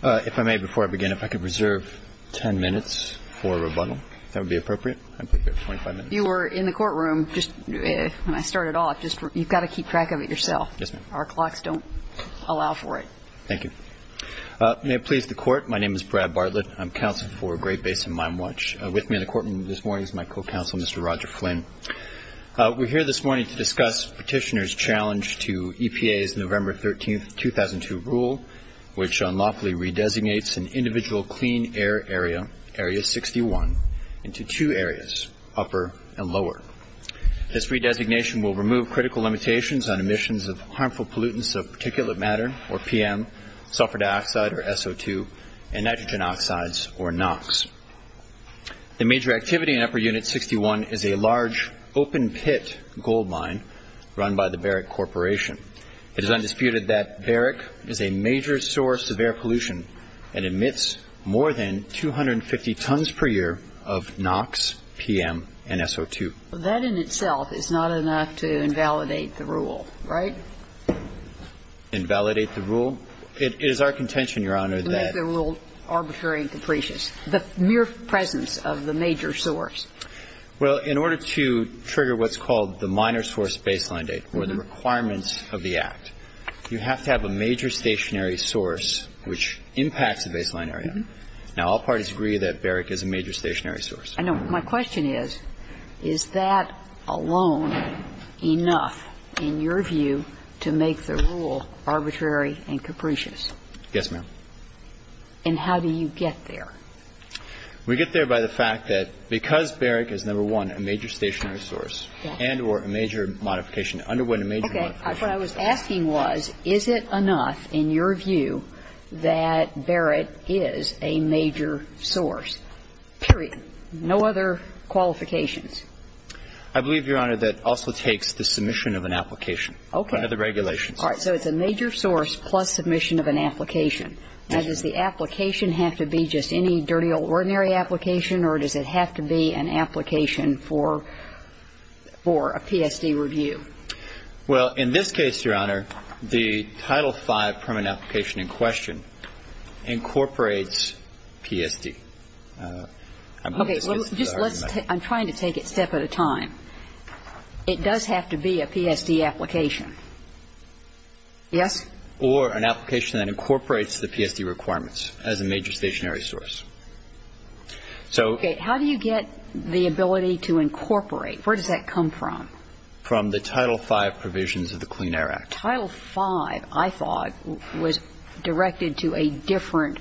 If I may, before I begin, if I could reserve 10 minutes for rebuttal, if that would be appropriate. You were in the courtroom just when I started off. You've got to keep track of it yourself. Yes, ma'am. Our clocks don't allow for it. Thank you. May it please the Court, my name is Brad Bartlett. I'm counsel for Great Basin Mine Watch. With me in the courtroom this morning is my co-counsel, Mr. Roger Flynn. We're here this morning to discuss Petitioner's challenge to EPA's November 13, 2002 rule, which unlawfully redesignates an individual clean air area, Area 61, into two areas, upper and lower. This redesignation will remove critical limitations on emissions of harmful pollutants of particulate matter, or PM, sulfur dioxide, or SO2, and nitrogen oxides, or NOx. The major activity in Upper Unit 61 is a large open pit gold mine run by the Barrick Corporation. It is undisputed that Barrick is a major source of air pollution and emits more than 250 tons per year of NOx, PM, and SO2. That in itself is not enough to invalidate the rule, right? Invalidate the rule? It is our contention, Your Honor, that To make the rule arbitrary and capricious. The mere presence of the major source. Well, in order to trigger what's called the minor source baseline date, or the requirements of the Act, you have to have a major stationary source which impacts the baseline area. Now, all parties agree that Barrick is a major stationary source. I know. My question is, is that alone enough, in your view, to make the rule arbitrary and capricious? Yes, ma'am. And how do you get there? We get there by the fact that because Barrick is, number one, a major stationary source and or a major modification, underwent a major modification. Okay. What I was asking was, is it enough, in your view, that Barrick is a major source? Period. No other qualifications. I believe, Your Honor, that also takes the submission of an application. Okay. Under the regulations. All right. So it's a major source plus submission of an application. Now, does the application have to be just any dirty old ordinary application, or does it have to be an application for a PSD review? Well, in this case, Your Honor, the Title V permanent application in question incorporates PSD. Okay. I'm trying to take it a step at a time. It does have to be a PSD application. Yes? Or an application that incorporates the PSD requirements as a major stationary source. So ---- Okay. How do you get the ability to incorporate? Where does that come from? From the Title V provisions of the Clean Air Act. Title V, I thought, was directed to a different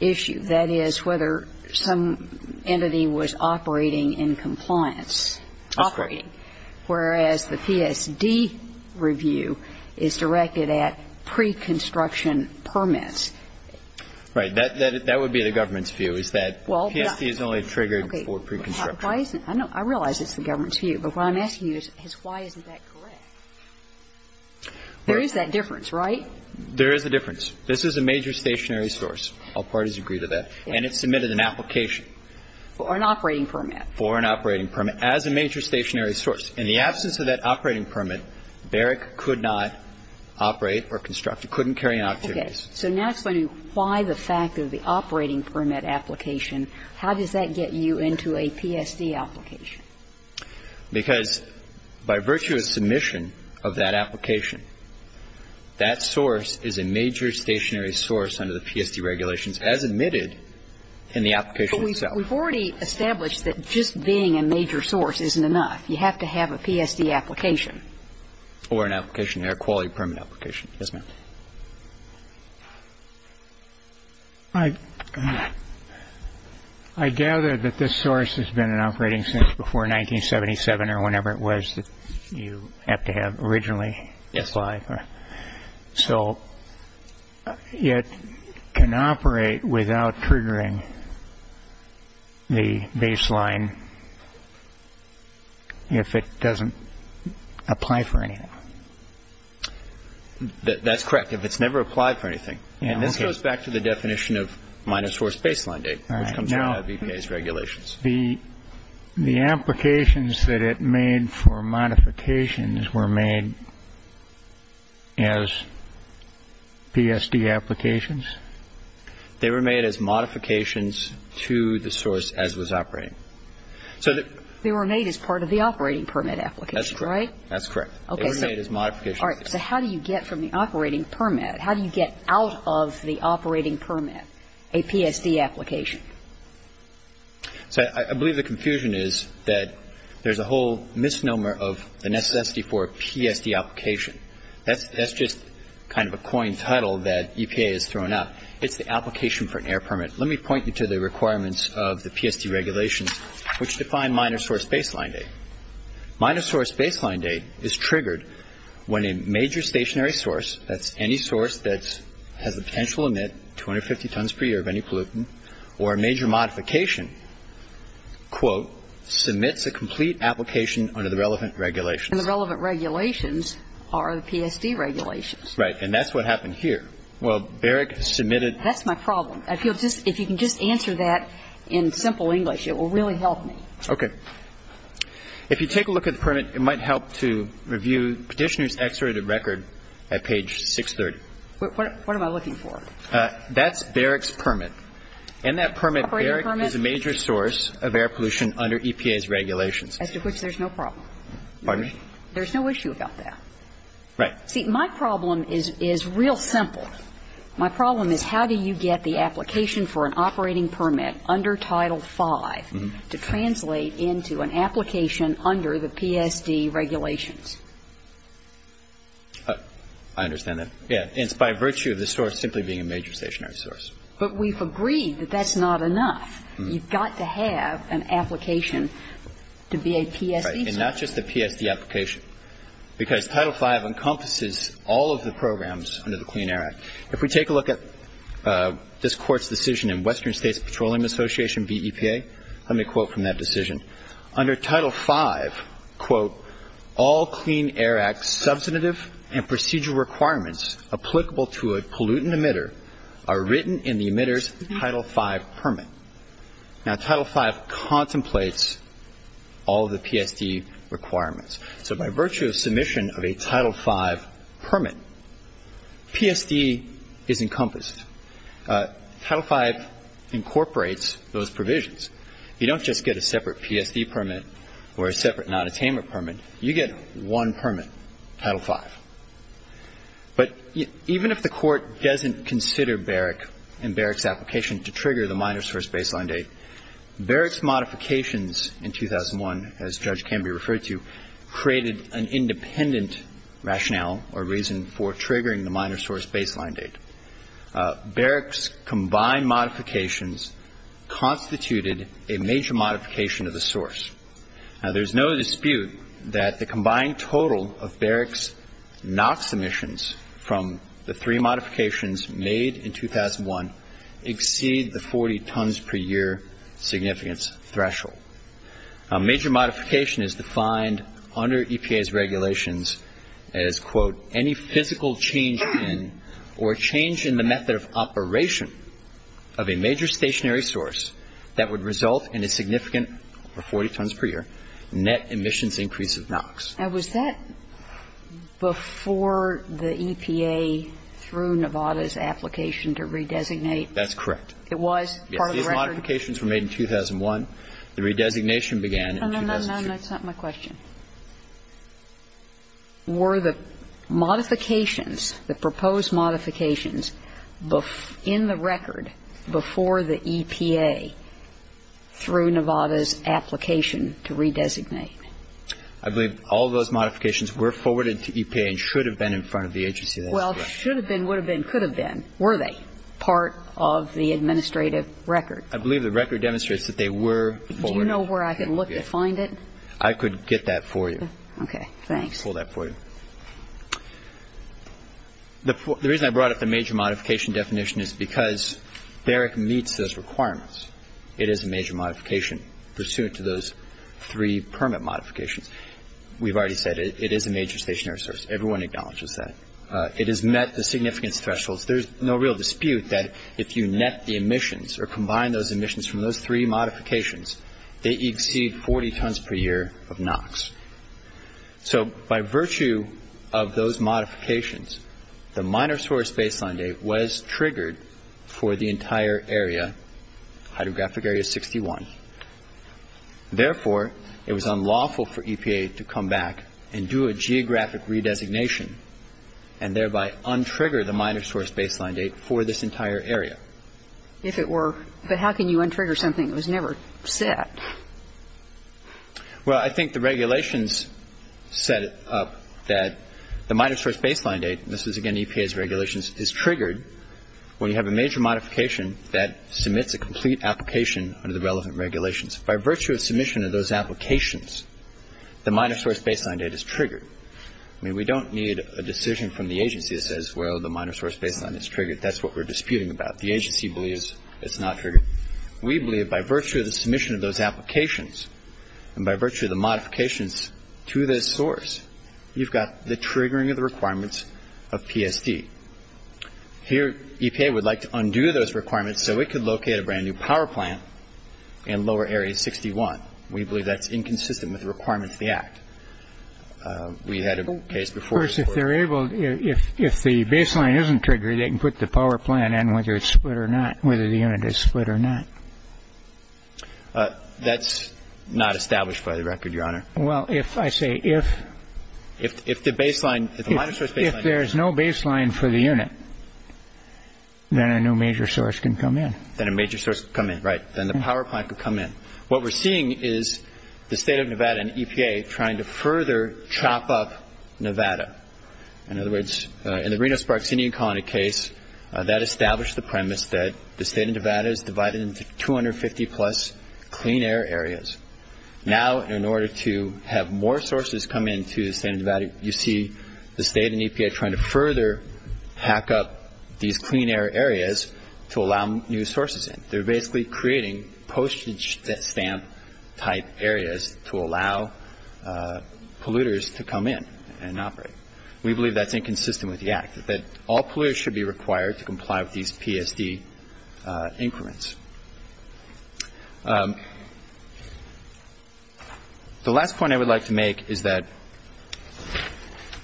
issue. That is, whether some entity was operating in compliance. That's correct. Operating. Whereas the PSD review is directed at pre-construction permits. Right. That would be the government's view, is that PSD is only triggered for pre-construction. I realize it's the government's view, but what I'm asking you is why isn't that correct? There is that difference, right? There is a difference. This is a major stationary source. All parties agree to that. And it submitted an application. For an operating permit. For an operating permit. As a major stationary source. In the absence of that operating permit, Barrick could not operate or construct or couldn't carry out activities. Okay. So now explaining why the fact of the operating permit application, how does that get you into a PSD application? Because by virtue of submission of that application, that source is a major stationary source under the PSD regulations as admitted in the application itself. We've already established that just being a major source isn't enough. You have to have a PSD application. Or an application, air quality permit application. Yes, ma'am. I gather that this source has been in operating since before 1977 or whenever it was that you have to have originally. Yes. So it can operate without triggering the baseline if it doesn't apply for anything. That's correct. If it's never applied for anything. And this goes back to the definition of minor source baseline date. All right. Which comes out of EPA's regulations. The applications that it made for modifications were made as PSD applications? They were made as modifications to the source as was operating. They were made as part of the operating permit application, right? That's correct. They were made as modifications. All right. So how do you get from the operating permit, how do you get out of the operating permit a PSD application? So I believe the confusion is that there's a whole misnomer of the necessity for a PSD application. That's just kind of a coined title that EPA has thrown out. It's the application for an air permit. Let me point you to the requirements of the PSD regulations which define minor source baseline date. Minor source baseline date is triggered when a major stationary source, that's any source that has the potential to emit 250 tons per year of any pollutant or a major modification, quote, submits a complete application under the relevant regulations. And the relevant regulations are the PSD regulations. Right. And that's what happened here. Well, Barrick submitted the PSD application. That's my problem. If you can just answer that in simple English, it will really help me. Okay. If you take a look at the permit, it might help to review Petitioner's Exerted Record at page 630. What am I looking for? That's Barrick's permit. In that permit, Barrick is a major source of air pollution under EPA's regulations. As to which there's no problem. Pardon me? There's no issue about that. Right. See, my problem is real simple. My problem is how do you get the application for an operating permit under Title V to translate into an application under the PSD regulations? I understand that. Yeah. And it's by virtue of the source simply being a major stationary source. But we've agreed that that's not enough. You've got to have an application to be a PSD source. Right. And not just a PSD application. Because Title V encompasses all of the programs under the Clean Air Act. If we take a look at this Court's decision in Western States Petroleum Association v. EPA, let me quote from that decision. Under Title V, quote, all Clean Air Act substantive and procedural requirements applicable to a pollutant emitter are written in the emitter's Title V permit. Now, Title V contemplates all of the PSD requirements. So by virtue of submission of a Title V permit, PSD is encompassed. Title V incorporates those provisions. You don't just get a separate PSD permit or a separate nonattainment permit. You get one permit, Title V. But even if the Court doesn't consider Barrick and Barrick's application to trigger the minor source baseline date, Barrick's modifications in 2001, as Judge Canby referred to, created an independent rationale or reason for triggering the minor source baseline date. Barrick's combined modifications constituted a major modification of the source. Now, there's no dispute that the combined total of Barrick's NOx emissions from the three modifications made in 2001 exceed the 40 tons per year significance threshold. Major modification is defined under EPA's regulations as, quote, any physical change in or change in the method of operation of a major stationary source that would result in a significant, or 40 tons per year, net emissions increase of NOx. Now, was that before the EPA threw Nevada's application to redesignate? That's correct. It was part of the record? No. The modifications were made in 2001. The redesignation began in 2002. No, no, no. That's not my question. Were the modifications, the proposed modifications in the record before the EPA threw Nevada's application to redesignate? I believe all those modifications were forwarded to EPA and should have been in front of the agency. Well, should have been, would have been, could have been. Were they part of the administrative record? I believe the record demonstrates that they were forwarded to EPA. Do you know where I could look to find it? I could get that for you. Okay. Thanks. I'll pull that for you. The reason I brought up the major modification definition is because Barrick meets those requirements. It is a major modification pursuant to those three permit modifications. We've already said it is a major stationary source. Everyone acknowledges that. It has met the significance thresholds. There's no real dispute that if you net the emissions or combine those emissions from those three modifications, they exceed 40 tons per year of NOx. So by virtue of those modifications, the minor source baseline date was triggered for the entire area, hydrographic area 61. Therefore, it was unlawful for EPA to come back and do a geographic redesignation and thereby untrigger the minor source baseline date for this entire area. If it were. But how can you untrigger something that was never set? Well, I think the regulations set up that the minor source baseline date, and this was, again, EPA's regulations, is triggered when you have a major modification that submits a complete application under the relevant regulations. By virtue of submission of those applications, the minor source baseline date is triggered. I mean, we don't need a decision from the agency that says, well, the minor source baseline is triggered. That's what we're disputing about. The agency believes it's not triggered. We believe by virtue of the submission of those applications and by virtue of the modifications to this source, you've got the triggering of the requirements of PSD. Here EPA would like to undo those requirements so it could locate a brand new power plant in lower area 61. We believe that's inconsistent with the requirements of the Act. We had a case before. First, if they're able, if the baseline isn't triggered, they can put the power plant in whether it's split or not, whether the unit is split or not. That's not established by the record, Your Honor. Well, if I say if. If the baseline, if the minor source baseline. If there's no baseline for the unit, then a new major source can come in. Then a major source can come in. Right. Then the power plant could come in. What we're seeing is the State of Nevada and EPA trying to further chop up Nevada. In other words, in the Reno-Sparks Indian Colony case, that established the premise that the State of Nevada is divided into 250-plus clean air areas. Now, in order to have more sources come into the State of Nevada, you see the State and EPA trying to further hack up these clean air areas to allow new sources in. They're basically creating postage stamp type areas to allow polluters to come in and operate. We believe that's inconsistent with the act, that all polluters should be required to comply with these PSD increments. The last point I would like to make is that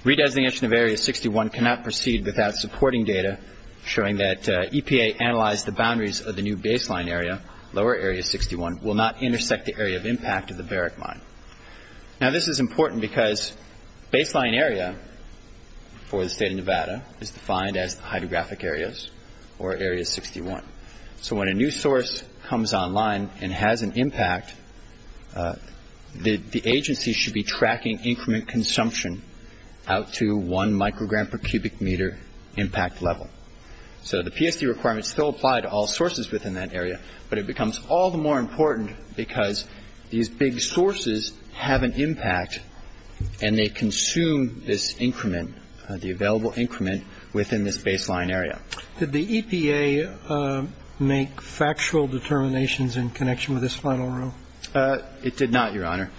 redesignation of Area 61 cannot proceed without supporting data showing that EPA analyzed the boundaries of the new baseline area, lower Area 61, will not intersect the area of impact of the Barrick Mine. Now, this is important because baseline area for the State of Nevada is defined as hydrographic areas or Area 61. So when a new source comes online and has an impact, the agency should be tracking increment consumption out to one microgram per cubic meter impact level. So the PSD requirements still apply to all sources within that area, but it becomes all the more important because these big sources have an impact and they consume this increment, the available increment, within this baseline area. Did the EPA make factual determinations in connection with this final rule? It did not, Your Honor.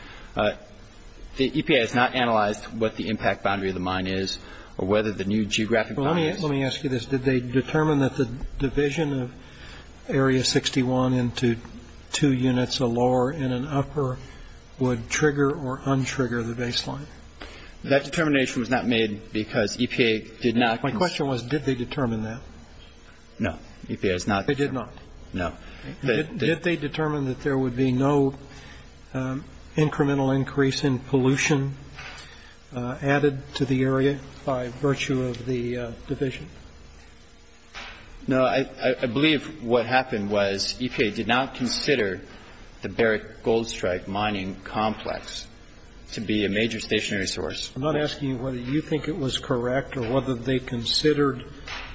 The EPA has not analyzed what the impact boundary of the mine is or whether the new geographic boundaries. Let me ask you this. Did they determine that the division of Area 61 into two units, a lower and an upper, would trigger or untrigger the baseline? That determination was not made because EPA did not. My question was, did they determine that? No. EPA has not. They did not? No. Did they determine that there would be no incremental increase in pollution added to the area by virtue of the division? No. I believe what happened was EPA did not consider the Barrick Goldstrike Mining Complex to be a major stationary source. I'm not asking you whether you think it was correct or whether they considered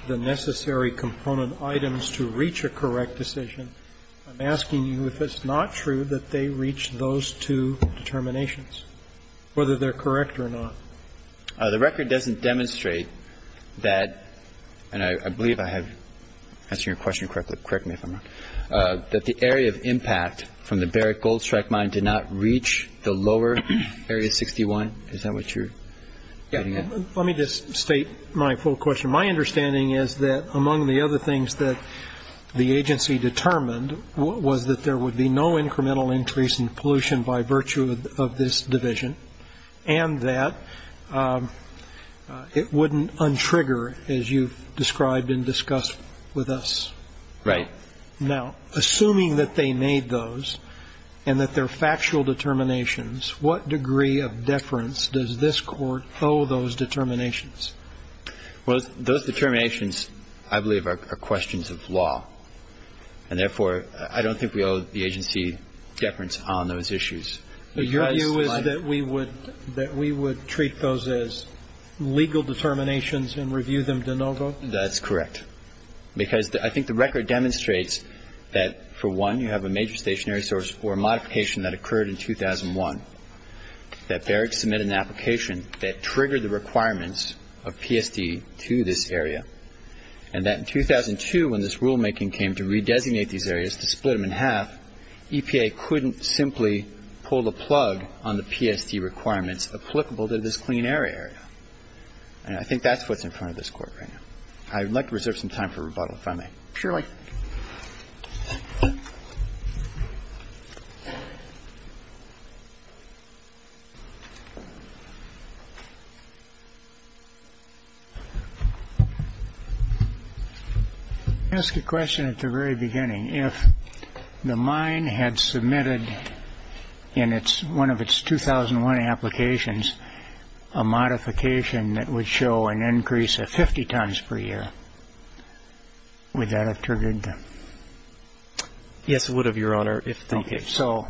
the necessary component items to reach a correct decision. I'm asking you if it's not true that they reached those two determinations, whether they're correct or not. The record doesn't demonstrate that, and I believe I have answered your question correctly, correct me if I'm wrong, that the area of impact from the Barrick Goldstrike Mine did not reach the lower Area 61. Is that what you're getting at? Yeah. Let me just state my full question. My understanding is that among the other things that the agency determined was that there would be no incremental increase in pollution by virtue of this division and that it wouldn't untrigger, as you've described and discussed with us. Right. Now, assuming that they made those and that they're factual determinations, what degree of deference does this Court owe those determinations? Well, those determinations, I believe, are questions of law. And therefore, I don't think we owe the agency deference on those issues. Your view is that we would treat those as legal determinations and review them de novo? That's correct. Because I think the record demonstrates that, for one, you have a major stationary source for a modification that occurred in 2001, that Barrick submitted an application that triggered the requirements of PSD to this area, and that in 2002, when this rulemaking came to redesignate these areas, to split them in half, EPA couldn't simply pull the plug on the PSD requirements applicable to this clean air area. And I think that's what's in front of this Court right now. I'd like to reserve some time for rebuttal, if I may. Surely. I'll ask a question at the very beginning. If the mine had submitted, in one of its 2001 applications, a modification that would show an increase of 50 tons per year, would that have triggered the... Yes, it would have, Your Honor. Okay. So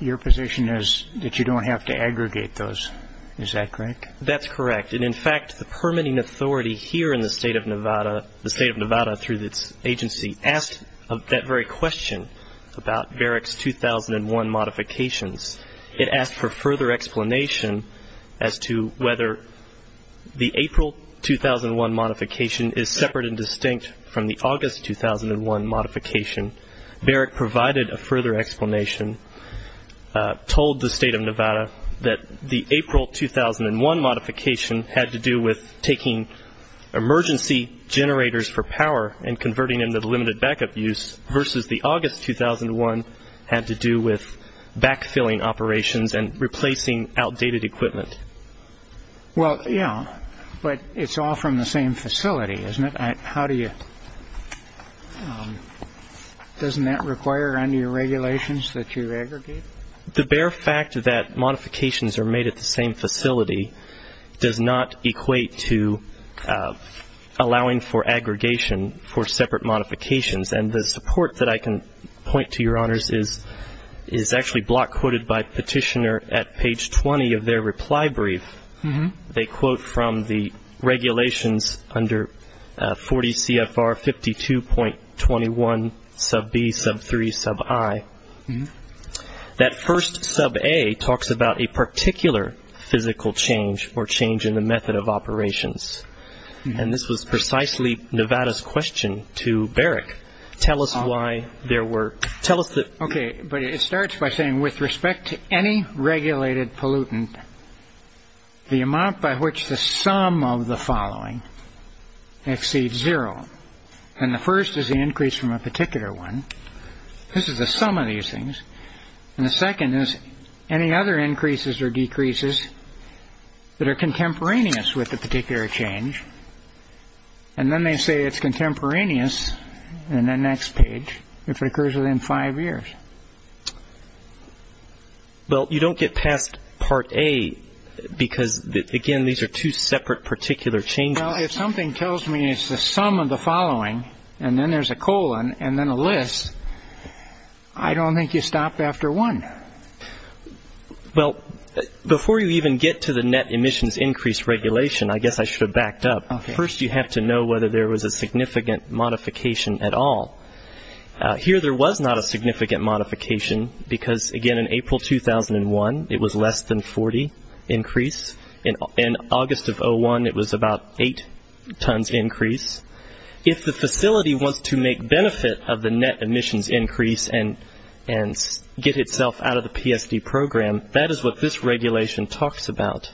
your position is that you don't have to aggregate those. Is that correct? That's correct. And, in fact, the permitting authority here in the State of Nevada, the State of Nevada through its agency, asked that very question about Barrick's 2001 modifications. It asked for further explanation as to whether the April 2001 modification is separate and distinct from the August 2001 modification. Barrick provided a further explanation, told the State of Nevada, that the April 2001 modification had to do with taking emergency generators for power and converting them to the limited backup use, versus the August 2001 had to do with backfilling operations and replacing outdated equipment. Well, yeah, but it's all from the same facility, isn't it? How do you... Doesn't that require under your regulations that you aggregate? The bare fact that modifications are made at the same facility does not equate to allowing for aggregation for separate modifications. And the support that I can point to, Your Honors, is actually block-quoted by Petitioner at page 20 of their reply brief. They quote from the regulations under 40 CFR 52.21 sub B, sub 3, sub I. That first sub A talks about a particular physical change or change in the method of operations. And this was precisely Nevada's question to Barrick. Tell us why there were... Okay, but it starts by saying, with respect to any regulated pollutant, the amount by which the sum of the following exceeds zero. And the first is the increase from a particular one. This is the sum of these things. And the second is any other increases or decreases that are contemporaneous with the particular change. And then they say it's contemporaneous in the next page if it occurs within five years. Well, you don't get past part A because, again, these are two separate particular changes. Well, if something tells me it's the sum of the following and then there's a colon and then a list, I don't think you stopped after one. Well, before you even get to the net emissions increase regulation, I guess I should have backed up. First you have to know whether there was a significant modification at all. Here there was not a significant modification because, again, in April 2001 it was less than 40 increase. In August of 2001 it was about eight tons increase. If the facility wants to make benefit of the net emissions increase and get itself out of the PSD program, that is what this regulation talks about.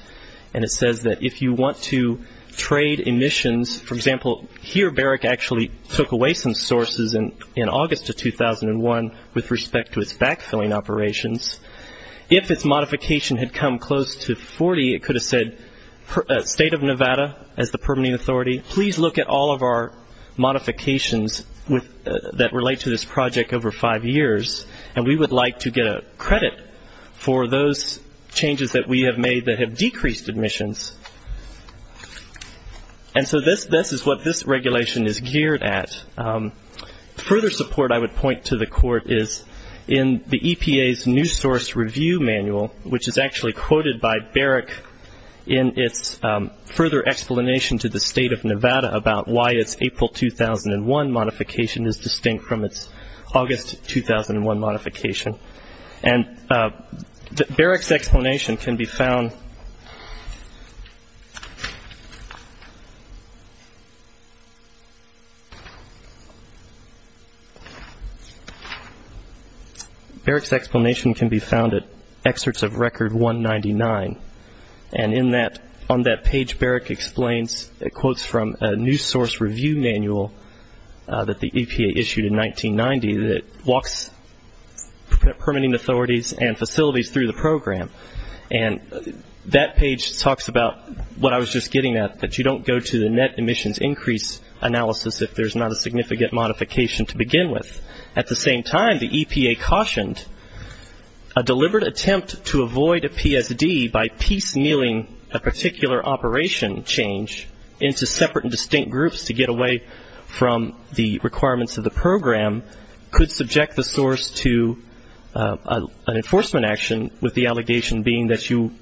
And it says that if you want to trade emissions, for example, here Barrick actually took away some sources in August of 2001 with respect to its backfilling operations. If its modification had come close to 40, it could have said State of Nevada as the permitting authority, please look at all of our modifications that relate to this project over five years, and we would like to get a credit for those changes that we have made that have decreased emissions. And so this is what this regulation is geared at. Further support I would point to the court is in the EPA's new source review manual, which is actually quoted by Barrick in its further explanation to the State of Nevada about why its April 2001 modification is distinct from its August 2001 modification. And Barrick's explanation can be found at excerpts of Record 199, and on that page Barrick quotes from a new source review manual that the EPA issued in 1990 that walks permitting authorities and facilities through the program. And that page talks about what I was just getting at, that you don't go to the net emissions increase analysis if there's not a significant modification to begin with. At the same time, the EPA cautioned a deliberate attempt to avoid a PSD by piecemealing a particular operation change into separate and distinct groups to get away from the requirements of the program could subject the source to an enforcement action, with the allegation being that you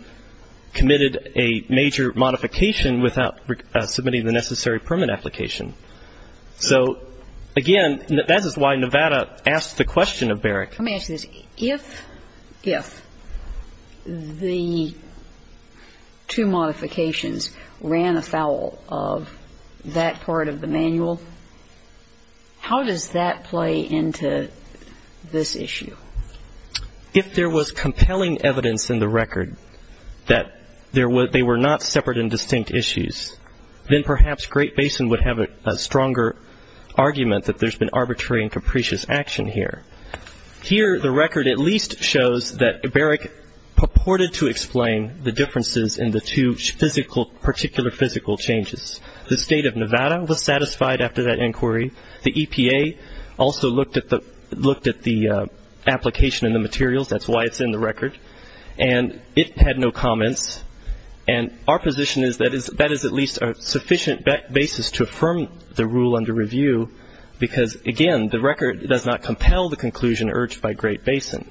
committed a major modification without submitting the necessary permit application. So, again, that is why Nevada asked the question of Barrick. Let me ask you this. If the two modifications ran afoul of that part of the manual, how does that play into this issue? If there was compelling evidence in the record that they were not separate and distinct issues, then perhaps Great Basin would have a stronger argument that there's been arbitrary and capricious action here. Here the record at least shows that Barrick purported to explain the differences in the two particular physical changes. The State of Nevada was satisfied after that inquiry. The EPA also looked at the application and the materials. That's why it's in the record. And it had no comments. And our position is that that is at least a sufficient basis to affirm the rule under review, because, again, the record does not compel the conclusion urged by Great Basin.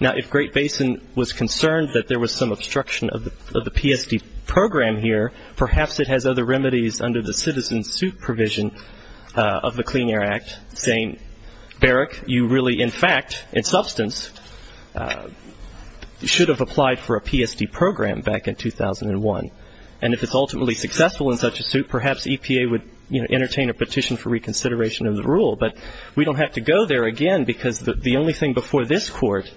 Now, if Great Basin was concerned that there was some obstruction of the PSD program here, perhaps it has other remedies under the citizen suit provision of the Clean Air Act saying, Barrick, you really, in fact, in substance, should have applied for a PSD program back in 2001. And if it's ultimately successful in such a suit, perhaps EPA would entertain a petition for reconsideration of the rule. But we don't have to go there again, because the only thing before this Court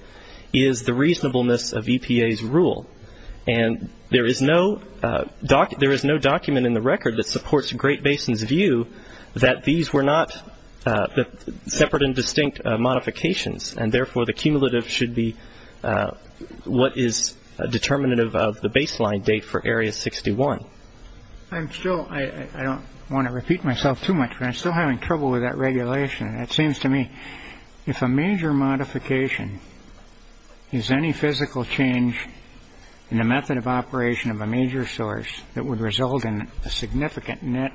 is the reasonableness of EPA's rule. And there is no document in the record that supports Great Basin's view that these were not separate and distinct modifications, and therefore the cumulative should be what is determinative of the baseline date for Area 61. I'm still ‑‑ I don't want to repeat myself too much, but I'm still having trouble with that regulation. It seems to me if a major modification is any physical change in the method of operation of a major source that would result in a significant net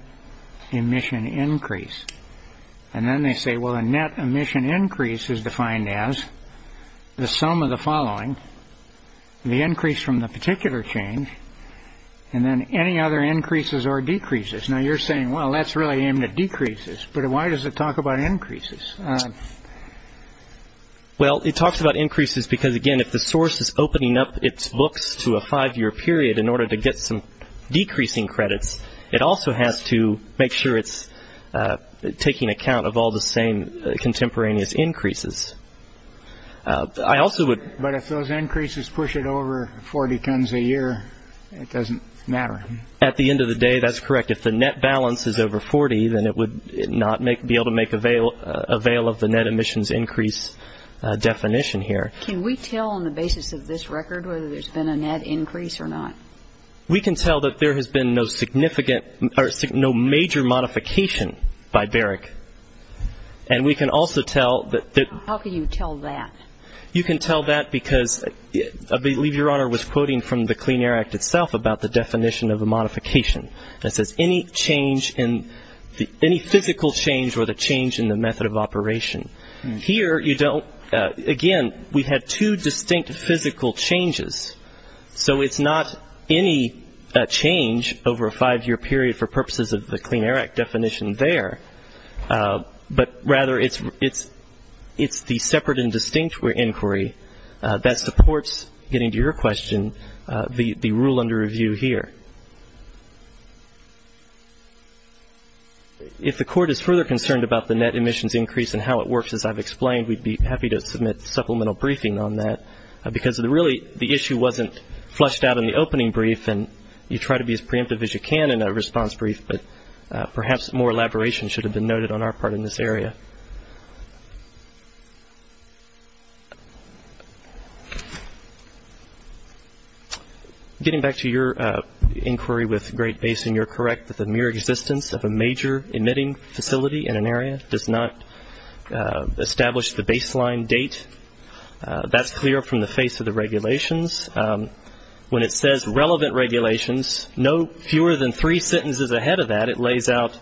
emission increase, and then they say, well, a net emission increase is defined as the sum of the following, the increase from the particular change, and then any other increases or decreases. Now, you're saying, well, that's really aimed at decreases, but why does it talk about increases? Well, it talks about increases because, again, if the source is opening up its books to a five‑year period in order to get some decreasing credits, it also has to make sure it's taking account of all the same contemporaneous increases. I also would ‑‑ But if those increases push it over 40 tons a year, it doesn't matter. At the end of the day, that's correct. If the net balance is over 40, then it would not be able to make avail of the net emissions increase definition here. Can we tell on the basis of this record whether there's been a net increase or not? We can tell that there has been no significant or no major modification by Barrick. And we can also tell that ‑‑ How can you tell that? You can tell that because I believe Your Honor was quoting from the Clean Air Act itself about the definition of a modification. It says any change in ‑‑ any physical change or the change in the method of operation. Here you don't ‑‑ again, we've had two distinct physical changes. So it's not any change over a five‑year period for purposes of the Clean Air Act definition there, but rather it's the separate and distinct inquiry that supports, getting to your question, the rule under review here. If the Court is further concerned about the net emissions increase and how it works, as I've explained, we'd be happy to submit supplemental briefing on that because really the issue wasn't flushed out in the opening brief and you try to be as preemptive as you can in a response brief, but perhaps more elaboration should have been noted on our part in this area. Getting back to your inquiry with Great Basin, you're correct that the mere existence of a major emitting facility in an area does not establish the baseline date. That's clear from the face of the regulations. When it says relevant regulations, no fewer than three sentences ahead of that, it lays out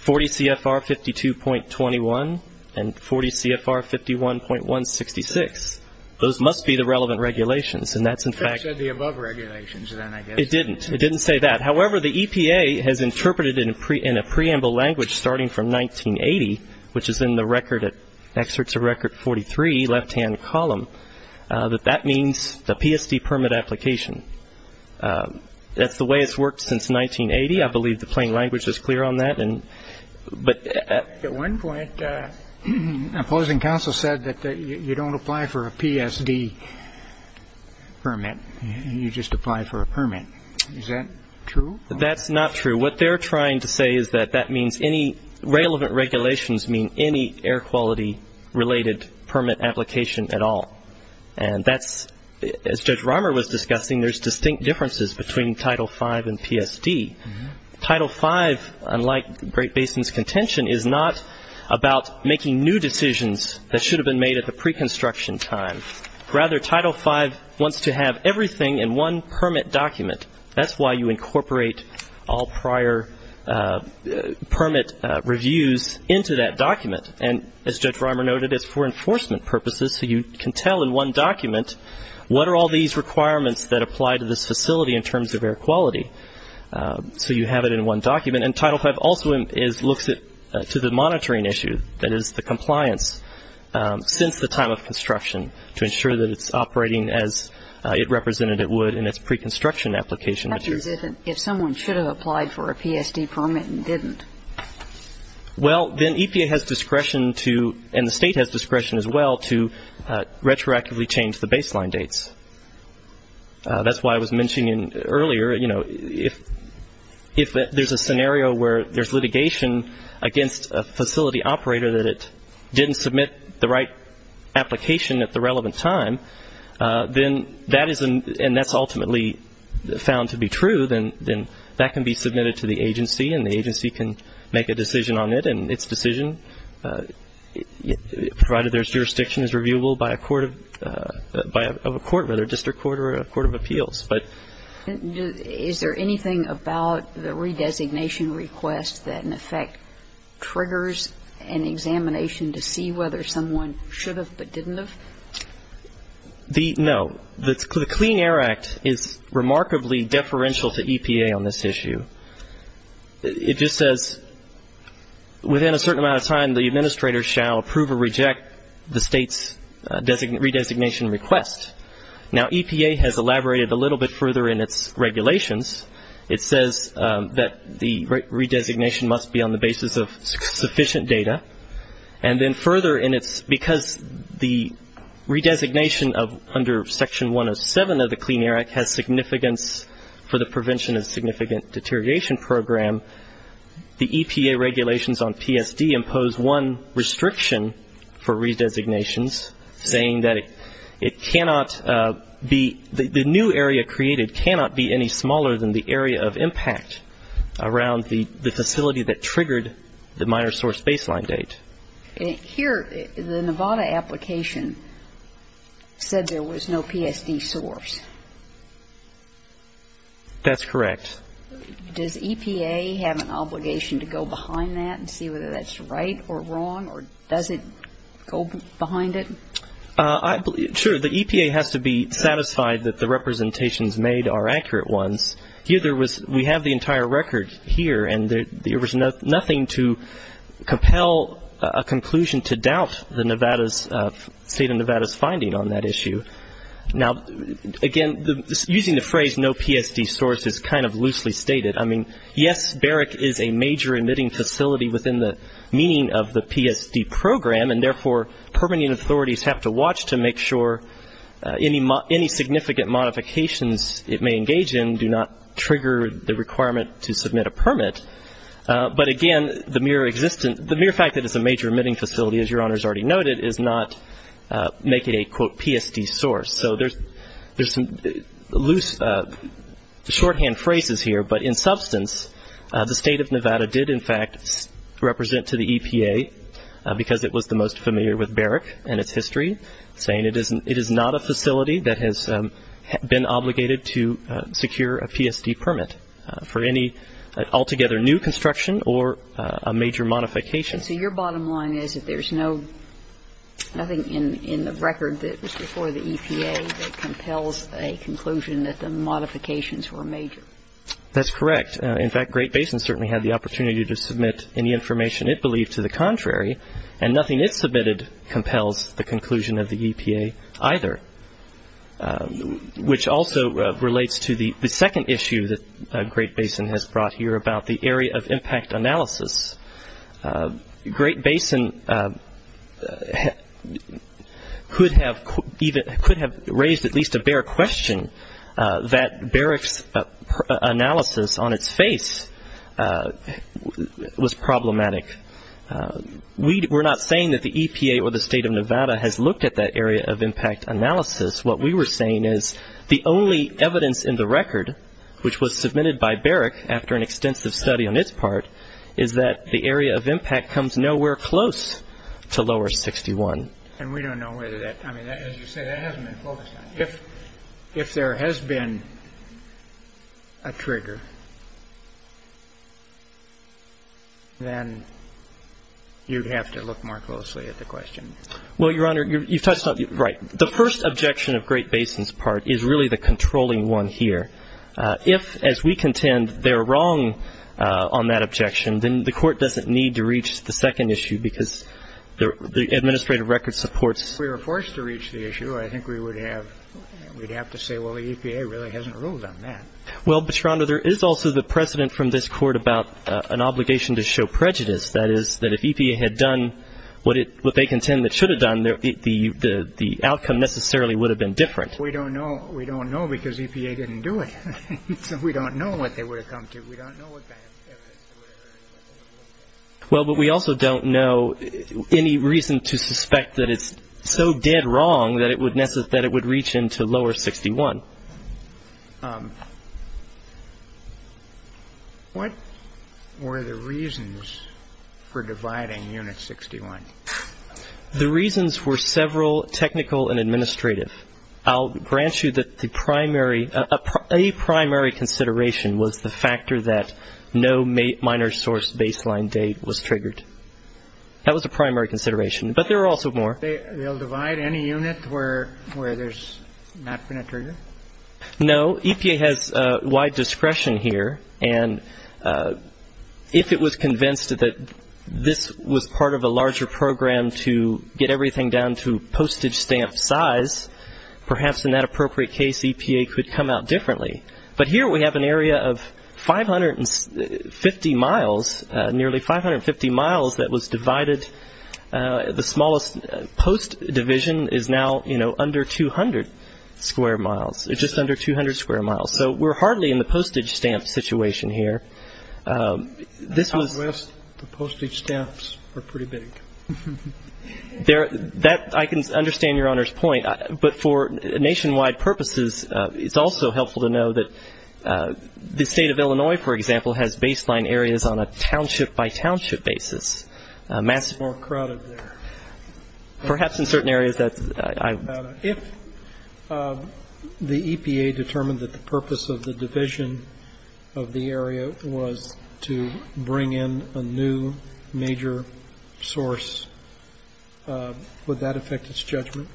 40 CFR 52.21 and 40 CFR 51.166. Those must be the relevant regulations. And that's in fact ‑‑ It said the above regulations then, I guess. It didn't. It didn't say that. However, the EPA has interpreted in a preamble language starting from 1980, which is in the excerpts of Record 43, left‑hand column, that that means the PSD permit application. That's the way it's worked since 1980. I believe the plain language is clear on that. At one point, opposing counsel said that you don't apply for a PSD permit. You just apply for a permit. Is that true? That's not true. What they're trying to say is that that means any ‑‑ relevant regulations mean any air quality related permit application at all. And that's, as Judge Reimer was discussing, there's distinct differences between Title V and PSD. Title V, unlike Great Basin's contention, is not about making new decisions that should have been made at the preconstruction time. Rather, Title V wants to have everything in one permit document. That's why you incorporate all prior permit reviews into that document. And, as Judge Reimer noted, it's for enforcement purposes, so you can tell in one document, what are all these requirements that apply to this facility in terms of air quality? So you have it in one document. And Title V also looks to the monitoring issue, that is, the compliance, since the time of construction, to ensure that it's operating as it represented it would in its preconstruction application. That means if someone should have applied for a PSD permit and didn't. Well, then EPA has discretion to, and the state has discretion as well, to retroactively change the baseline dates. That's why I was mentioning earlier, you know, if there's a scenario where there's litigation against a facility operator that it didn't submit the right application at the relevant time, then that is, and that's ultimately found to be true, then that can be submitted to the agency and the agency can make a decision on it. And its decision, provided there's jurisdiction, is reviewable by a court of appeals. Is there anything about the redesignation request that, in effect, triggers an examination to see whether someone should have but didn't have? No. The Clean Air Act is remarkably deferential to EPA on this issue. It just says, within a certain amount of time, the administrator shall approve or reject the state's redesignation request. Now, EPA has elaborated a little bit further in its regulations. It says that the redesignation must be on the basis of sufficient data. And then further, because the redesignation under Section 107 of the Clean Air Act has significance for the prevention of significant deterioration program, the EPA regulations on PSD impose one restriction for redesignations, saying that the new area created cannot be any smaller than the area of impact around the facility that triggered the minor source baseline date. Here, the Nevada application said there was no PSD source. That's correct. Does EPA have an obligation to go behind that and see whether that's right or wrong, or does it go behind it? Sure. The EPA has to be satisfied that the representations made are accurate ones. We have the entire record here, and there was nothing to compel a conclusion to doubt the state of Nevada's finding on that issue. Now, again, using the phrase no PSD source is kind of loosely stated. I mean, yes, BEREC is a major emitting facility within the meaning of the PSD program, and therefore permitting authorities have to watch to make sure any significant modifications it may engage in do not trigger the requirement to submit a permit. But, again, the mere fact that it's a major emitting facility, as Your Honors already noted, is not making a, quote, PSD source. So there's some loose shorthand phrases here, but in substance, the state of Nevada did, in fact, represent to the EPA, because it was the most familiar with BEREC and its history, saying it is not a facility that has been obligated to secure a PSD permit for any altogether new construction or a major modification. And so your bottom line is that there's nothing in the record that was before the EPA that compels a conclusion that the modifications were major. That's correct. In fact, Great Basin certainly had the opportunity to submit any information it believed to the contrary, and nothing it submitted compels the conclusion of the EPA either, which also relates to the second issue that Great Basin has brought here about the area of impact analysis. Great Basin could have raised at least a bare question that BEREC's analysis on its face was problematic. We're not saying that the EPA or the state of Nevada has looked at that area of impact analysis. What we were saying is the only evidence in the record, which was submitted by BEREC after an extensive study on its part, is that the area of impact comes nowhere close to lower 61. And we don't know whether that, I mean, as you say, that hasn't been focused on. If there has been a trigger, then you'd have to look more closely at the question. Well, Your Honor, you've touched on it. Right. The first objection of Great Basin's part is really the controlling one here. If, as we contend, they're wrong on that objection, then the Court doesn't need to reach the second issue because the administrative record supports it. If we were forced to reach the issue, I think we would have to say, well, the EPA really hasn't ruled on that. Well, Your Honor, there is also the precedent from this Court about an obligation to show prejudice, that is, that if EPA had done what they contend it should have done, the outcome necessarily would have been different. We don't know. We don't know because EPA didn't do it. So we don't know what they would have come to. We don't know. Well, but we also don't know any reason to suspect that it's so dead wrong that it would reach into lower 61. What were the reasons for dividing Unit 61? The reasons were several, technical and administrative. I'll grant you that a primary consideration was the factor that no minor source baseline date was triggered. That was a primary consideration, but there are also more. They'll divide any unit where there's not been a trigger? No. EPA has wide discretion here, and if it was convinced that this was part of a larger program to get everything down to postage stamp size, perhaps in that appropriate case EPA could come out differently. But here we have an area of 550 miles, nearly 550 miles that was divided. The smallest post division is now under 200 square miles, just under 200 square miles. So we're hardly in the postage stamp situation here. Southwest, the postage stamps are pretty big. I can understand Your Honor's point, but for nationwide purposes, it's also helpful to know that the State of Illinois, for example, has baseline areas on a township-by-township basis. It's more crowded there. Perhaps in certain areas. If the EPA determined that the purpose of the division of the area was to bring in a new major source, would that affect its judgment?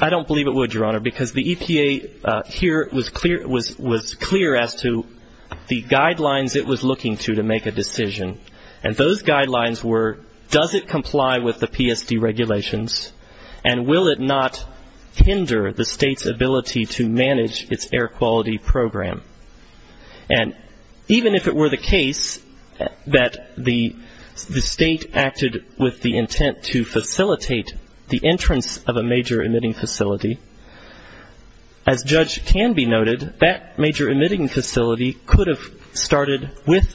I don't believe it would, Your Honor, because the EPA here was clear as to the guidelines it was looking to to make a decision. And those guidelines were does it comply with the PSD regulations and will it not hinder the state's ability to manage its air quality program. And even if it were the case that the state acted with the intent to facilitate the entrance of a major emitting facility, as Judge Tanby noted, that major emitting facility could have started with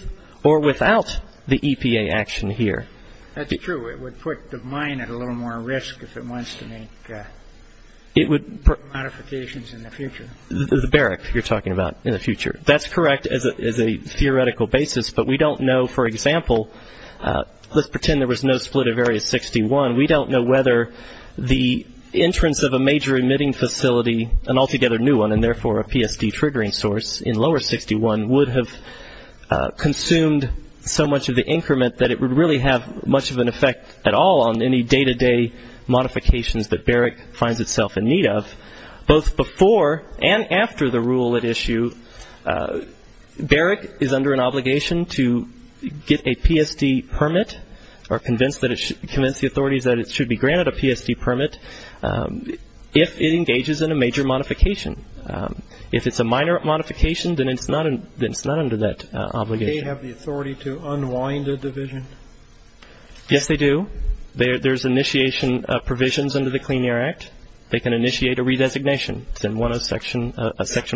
or without the EPA action here. That's true. It would put the mine at a little more risk if it wants to make modifications in the future. The barrack you're talking about in the future. That's correct as a theoretical basis, but we don't know. For example, let's pretend there was no split of Area 61. We don't know whether the entrance of a major emitting facility, an altogether new one, and therefore a PSD triggering source in Lower 61 would have consumed so much of the increment that it would really have much of an effect at all on any day-to-day modifications that barrack finds itself in need of. Both before and after the rule at issue, barrack is under an obligation to get a PSD permit or convince the authorities that it should be granted a PSD permit if it engages in a major modification. If it's a minor modification, then it's not under that obligation. Do EPA have the authority to unwind a division? Yes, they do. There's initiation provisions under the Clean Air Act. They can initiate a redesignation in Section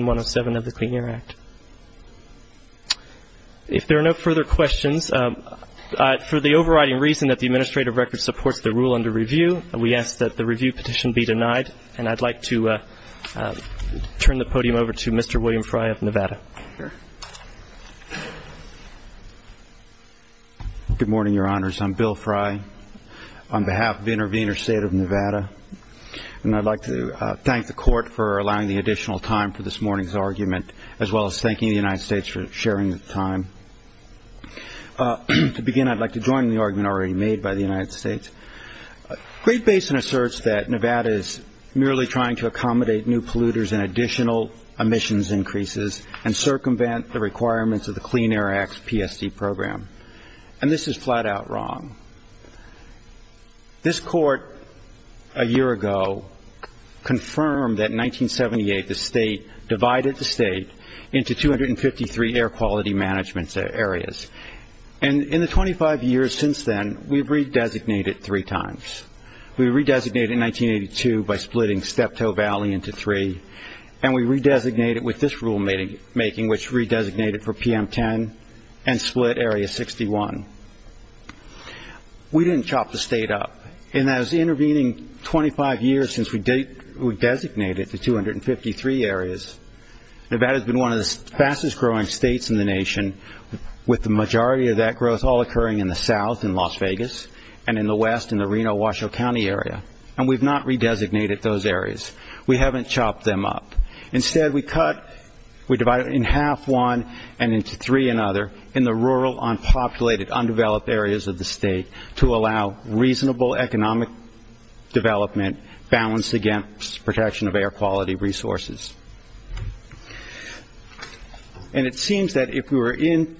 107 of the Clean Air Act. If there are no further questions, for the overriding reason that the administrative record supports the rule under review, we ask that the review petition be denied, and I'd like to turn the podium over to Mr. William Fry of Nevada. Sure. Good morning, Your Honors. I'm Bill Fry on behalf of Intervenor State of Nevada, and I'd like to thank the Court for allowing the additional time for this morning's argument, as well as thanking the United States for sharing the time. To begin, I'd like to join in the argument already made by the United States. Great Basin asserts that Nevada is merely trying to accommodate new polluters and additional emissions increases and circumvent the requirements of the Clean Air Act's PSD program, and this is flat-out wrong. This Court a year ago confirmed that in 1978 the State divided the State into 253 air quality management areas, and in the 25 years since then, we've re-designated three times. We re-designated in 1982 by splitting Steptoe Valley into three, and we re-designated with this rulemaking, which re-designated for PM10 and split Area 61. We didn't chop the State up, and that was intervening 25 years since we designated the 253 areas. Nevada's been one of the fastest-growing states in the nation, with the majority of that growth all occurring in the south in Las Vegas and in the west in the Reno-Washoe County area, and we've not re-designated those areas. We haven't chopped them up. Instead, we cut, we divide it in half one and into three another in the rural, unpopulated, undeveloped areas of the state to allow reasonable economic development balanced against protection of air quality resources. And it seems that if we were in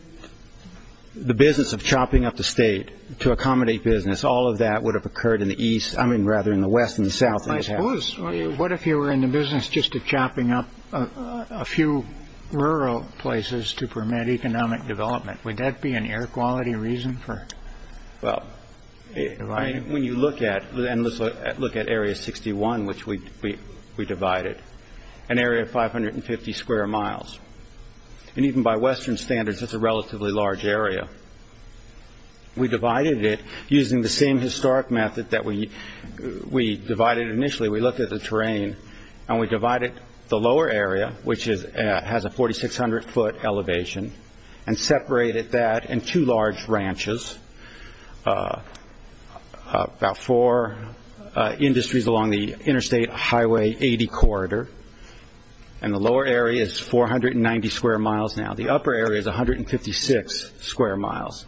the business of chopping up the state to accommodate business, all of that would have occurred in the east, I mean, rather, in the west and the south. I suppose, what if you were in the business just of chopping up a few rural places to permit economic development? Would that be an air quality reason for? Well, when you look at and look at Area 61, which we divided, an area of 550 square miles. And even by Western standards, that's a relatively large area. We divided it using the same historic method that we divided initially. We looked at the terrain, and we divided the lower area, which has a 4,600-foot elevation, and separated that in two large ranches, about four industries along the Interstate Highway 80 corridor. And the lower area is 490 square miles now. The upper area is 156 square miles.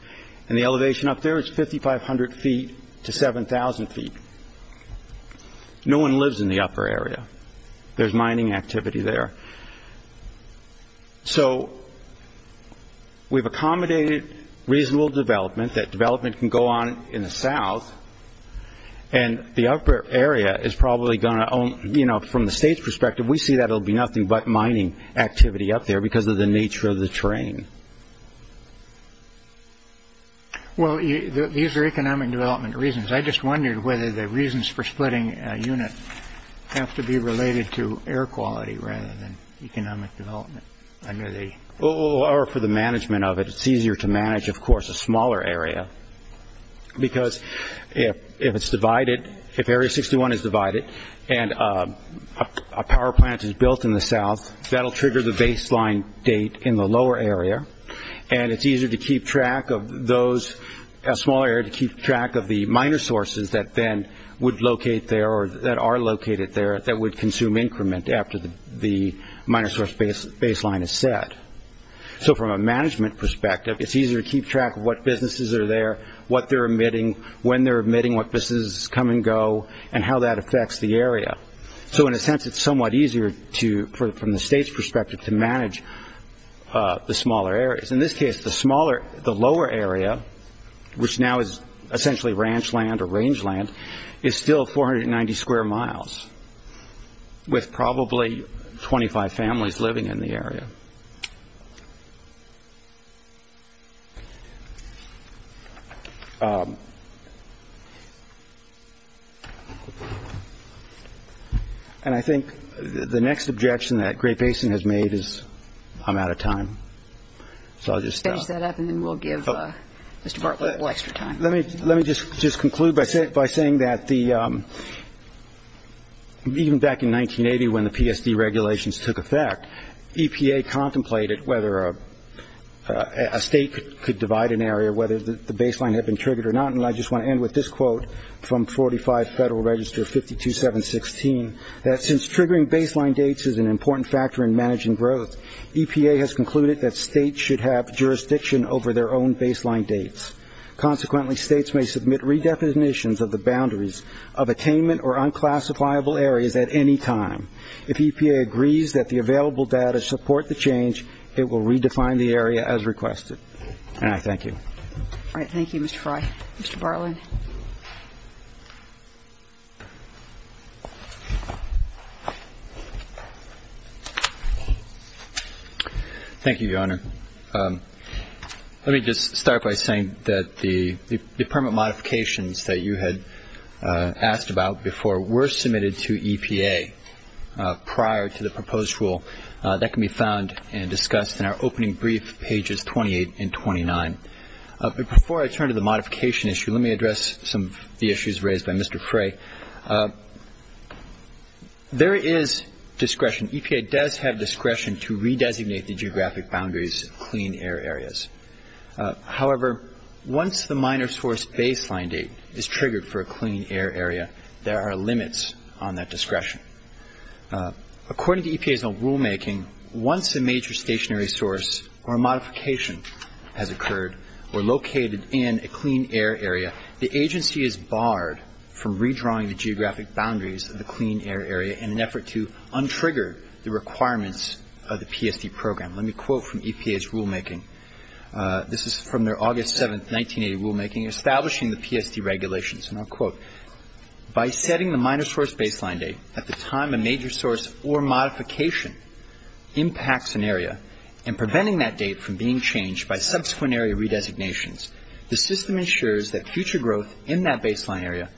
And the elevation up there is 5,500 feet to 7,000 feet. No one lives in the upper area. There's mining activity there. So we've accommodated reasonable development. That development can go on in the south. And the upper area is probably going to own, you know, from the state's perspective, we see that it will be nothing but mining activity up there because of the nature of the terrain. Well, these are economic development reasons. I just wondered whether the reasons for splitting a unit have to be related to air quality rather than economic development. Or for the management of it. It's easier to manage, of course, a smaller area. Because if it's divided, if Area 61 is divided and a power plant is built in the south, that will trigger the baseline date in the lower area. And it's easier to keep track of those, a smaller area, to keep track of the minor sources that then would locate there or that are located there that would consume increment after the minor source baseline is set. So from a management perspective, it's easier to keep track of what businesses are there, what they're emitting, when they're emitting, what businesses come and go, and how that affects the area. So in a sense, it's somewhat easier from the state's perspective to manage the smaller areas. In this case, the lower area, which now is essentially ranch land or rangeland, is still 490 square miles with probably 25 families living in the area. And I think the next objection that Great Basin has made is I'm out of time. So I'll just finish that up and then we'll give Mr. Bartlett a little extra time. Let me just conclude by saying that even back in 1980 when the PSD regulations took effect, EPA contemplated whether a state could divide an area, whether the baseline had been triggered or not. And I just want to end with this quote from 45 Federal Register 52716, that since triggering baseline dates is an important factor in managing growth, EPA has concluded that states should have jurisdiction over their own baseline dates. Consequently, states may submit redefinitions of the boundaries of attainment or unclassifiable areas at any time. If EPA agrees that the available data support the change, it will redefine the area as requested. And I thank you. All right. Thank you, Mr. Fry. Mr. Bartlett. Thank you, Your Honor. Let me just start by saying that the permit modifications that you had asked about before were submitted to EPA prior to the proposed rule. That can be found and discussed in our opening brief, pages 28 and 29. Before I turn to the modification issue, let me address some of the issues raised by Mr. Fry. There is discretion. EPA does have discretion to redesignate the geographic boundaries of clean air areas. However, once the minor source baseline date is triggered for a clean air area, there are limits on that discretion. According to EPA's own rulemaking, once a major stationary source or modification has occurred or located in a clean air area, the agency is barred from redrawing the geographic boundaries of the clean air area in an effort to untrigger the requirements of the PSD program. Let me quote from EPA's rulemaking. This is from their August 7, 1980 rulemaking establishing the PSD regulations. And I'll quote. By setting the minor source baseline date at the time a major source or modification impacts an area and preventing that date from being changed by subsequent area redesignations, the system ensures that future growth in that baseline area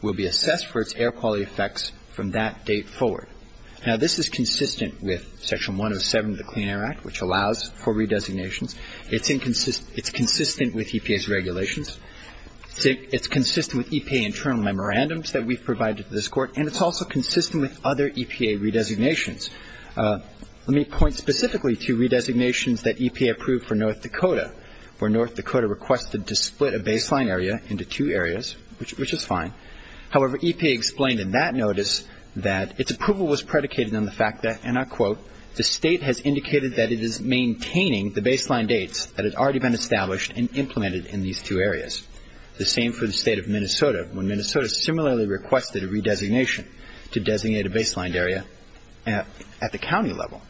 will be assessed for its air quality effects from that date forward. Now, this is consistent with Section 107 of the Clean Air Act, which allows for redesignations. It's consistent with EPA's regulations. It's consistent with EPA internal memorandums that we've provided to this Court. And it's also consistent with other EPA redesignations. Let me point specifically to redesignations that EPA approved for North Dakota, where North Dakota requested to split a baseline area into two areas, which is fine. However, EPA explained in that notice that its approval was predicated on the fact that, and I'll quote, the state has indicated that it is maintaining the baseline dates that have already been established and implemented in these two areas. The same for the state of Minnesota, when Minnesota similarly requested a redesignation to designate a baseline area at the county level.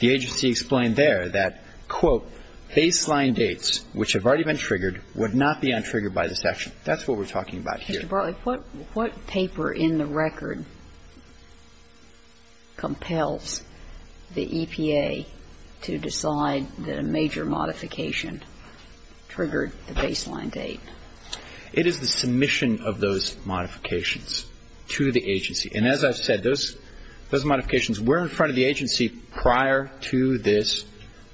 The agency explained there that, quote, baseline dates, which have already been triggered, would not be untriggered by this action. That's what we're talking about here. Mr. Bartlett, what paper in the record compels the EPA to decide that a major modification triggered the baseline date? It is the submission of those modifications to the agency. And as I've said, those modifications were in front of the agency prior to this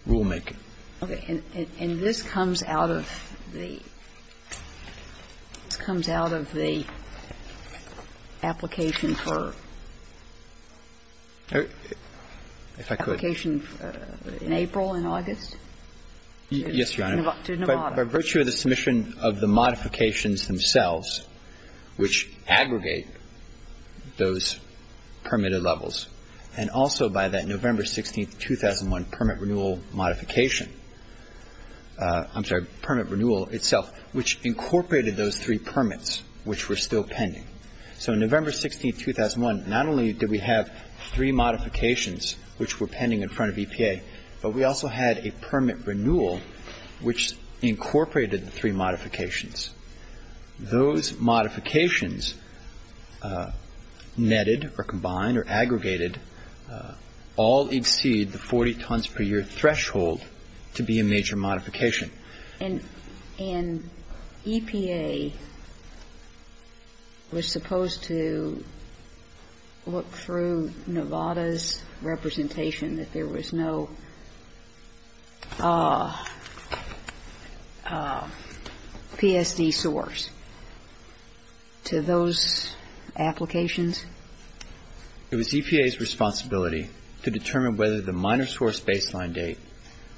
rulemaking. Okay. And this comes out of the application for? If I could. Application in April and August? Yes, Your Honor. To Nevada. By virtue of the submission of the modifications themselves, which aggregate those permitted levels, and also by that November 16, 2001, permit renewal modification, I'm sorry, permit renewal itself, which incorporated those three permits which were still pending. So November 16, 2001, not only did we have three modifications which were pending in front of EPA, but we also had a permit renewal which incorporated the three modifications. Those modifications netted or combined or aggregated all exceed the 40 tons per year threshold to be a major modification. And EPA was supposed to look through Nevada's representation that there was no PSD source to those applications? It was EPA's responsibility to determine whether the minor source baseline date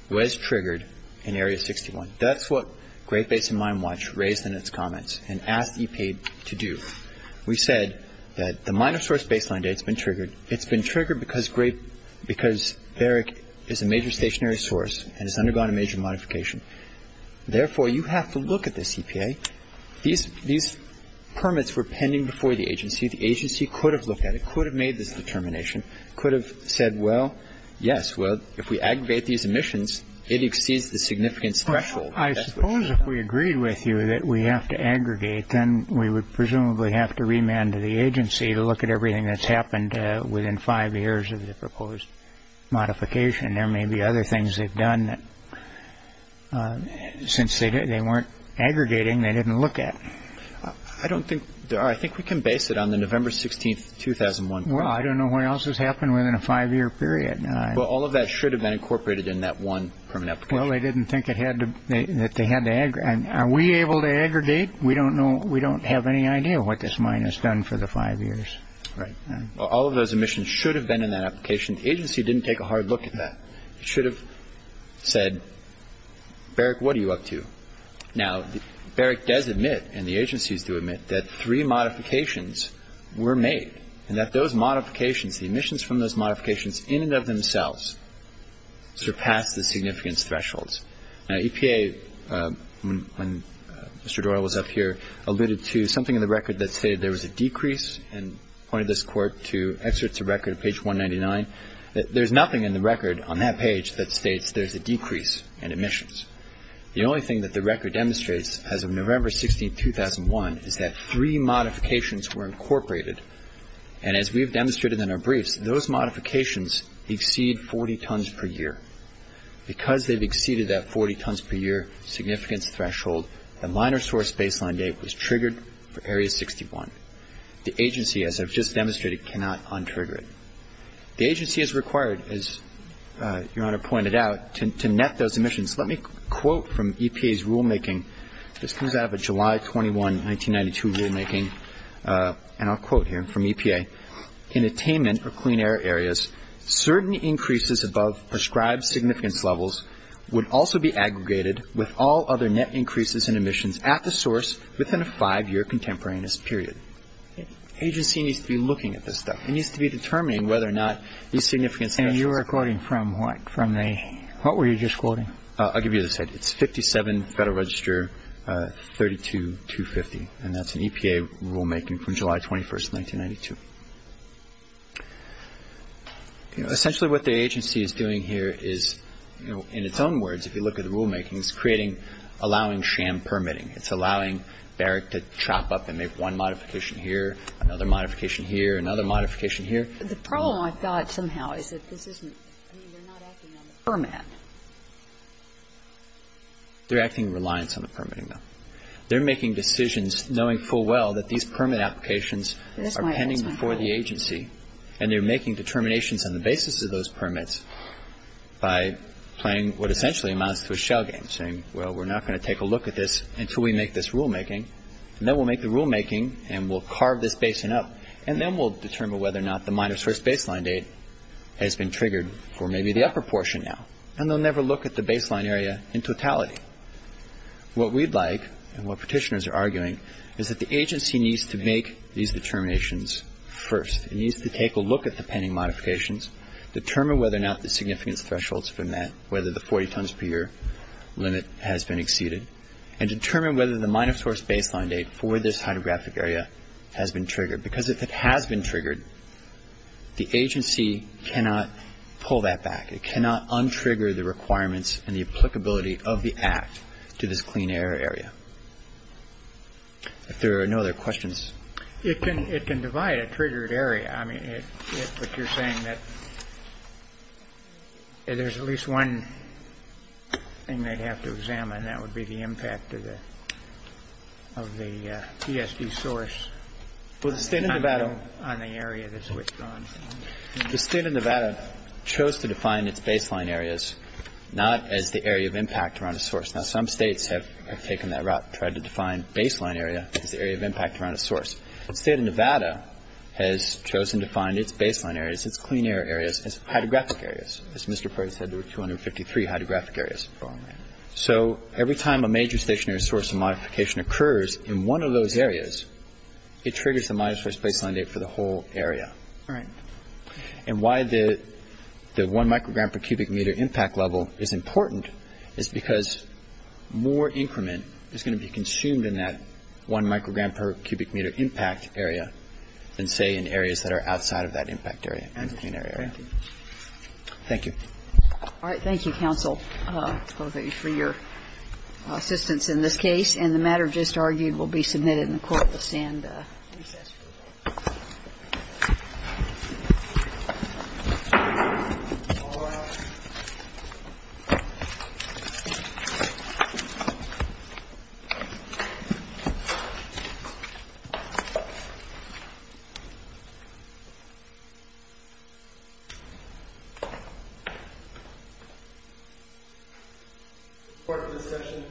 was triggered in Area 61. That's what Great Basin Mine Watch raised in its comments and asked EPA to do. We said that the minor source baseline date has been triggered. It's been triggered because Barrick is a major stationary source and has undergone a major modification. Therefore, you have to look at this, EPA. These permits were pending before the agency. The agency could have looked at it, could have made this determination, could have said, well, yes, well, if we aggregate these emissions, it exceeds the significance threshold. I suppose if we agreed with you that we have to aggregate, then we would presumably have to remand to the agency to look at everything that's happened within five years of the proposed modification. There may be other things they've done that since they weren't aggregating, they didn't look at. I don't think there are. I think we can base it on the November 16th, 2001. Well, I don't know what else has happened within a five-year period. Well, all of that should have been incorporated in that one permit application. Well, they didn't think that they had to aggregate. Are we able to aggregate? We don't know, we don't have any idea what this mine has done for the five years. Right. All of those emissions should have been in that application. The agency didn't take a hard look at that. It should have said, Barrick, what are you up to? Now, Barrick does admit, and the agencies do admit, that three modifications were made and that those modifications, the emissions from those modifications in and of themselves, surpassed the significance thresholds. Now, EPA, when Mr. Doyle was up here, alluded to something in the record that stated there was a decrease and pointed this Court to excerpts of record on page 199. There's nothing in the record on that page that states there's a decrease in emissions. The only thing that the record demonstrates as of November 16, 2001, is that three modifications were incorporated. And as we've demonstrated in our briefs, those modifications exceed 40 tons per year. Because they've exceeded that 40 tons per year significance threshold, the minor source baseline date was triggered for Area 61. The agency, as I've just demonstrated, cannot untrigger it. The agency is required, as Your Honor pointed out, to net those emissions. Let me quote from EPA's rulemaking. This comes out of a July 21, 1992, rulemaking. And I'll quote here from EPA. In attainment or clean air areas, certain increases above prescribed significance levels would also be aggregated with all other net increases in emissions at the source within a five-year contemporaneous period. Agency needs to be looking at this stuff. It needs to be determining whether or not these significance thresholds are correct. And that's the rulemaking from what? From the what were you just quoting? I'll give you this. It's 57 Federal Register 32250. And that's an EPA rulemaking from July 21, 1992. Essentially, what the agency is doing here is, you know, in its own words, if you look at the rulemaking, it's creating, allowing sham permitting. It's allowing Barrick to chop up and make one modification here, another modification here, another modification here. The problem, I thought somehow, is that this isn't, I mean, they're not acting on the permit. They're acting in reliance on the permitting, though. They're making decisions knowing full well that these permit applications are pending before the agency, and they're making determinations on the basis of those permits by playing what essentially amounts to a shell game, saying, well, we're not going to take a look at this until we make this rulemaking. And then we'll make the rulemaking, and we'll carve this basin up, and then we'll determine whether or not the minor source baseline date has been triggered for maybe the upper portion now. And they'll never look at the baseline area in totality. What we'd like, and what petitioners are arguing, is that the agency needs to make these determinations first. It needs to take a look at the pending modifications, determine whether or not the significance thresholds have been met, whether the 40 tons per year limit has been exceeded, and determine whether the minor source baseline date for this hydrographic area has been triggered, because if it has been triggered, the agency cannot pull that back. It cannot untrigger the requirements and the applicability of the Act to this clean air area. If there are no other questions. It can divide a triggered area. I mean, but you're saying that there's at least one thing they'd have to examine, and that would be the impact of the PSB source on the area that's switched on. The State of Nevada chose to define its baseline areas not as the area of impact around a source. Now, some states have taken that route, tried to define baseline area as the area of impact around a source. The State of Nevada has chosen to find its baseline areas, its clean air areas, as hydrographic areas. As Mr. Perry said, there were 253 hydrographic areas. So every time a major stationary source of modification occurs in one of those areas, it triggers the minor source baseline date for the whole area. And why the one microgram per cubic meter impact level is important is because more increment is going to be consumed in that one microgram per cubic meter impact area than, say, in areas that are outside of that impact area, clean air area. Thank you. All right. Thank you, counsel, for your assistance in this case. And the matter just argued will be submitted in the court. We'll send recess for the day. Court is adjourned. Thank you. Thank you.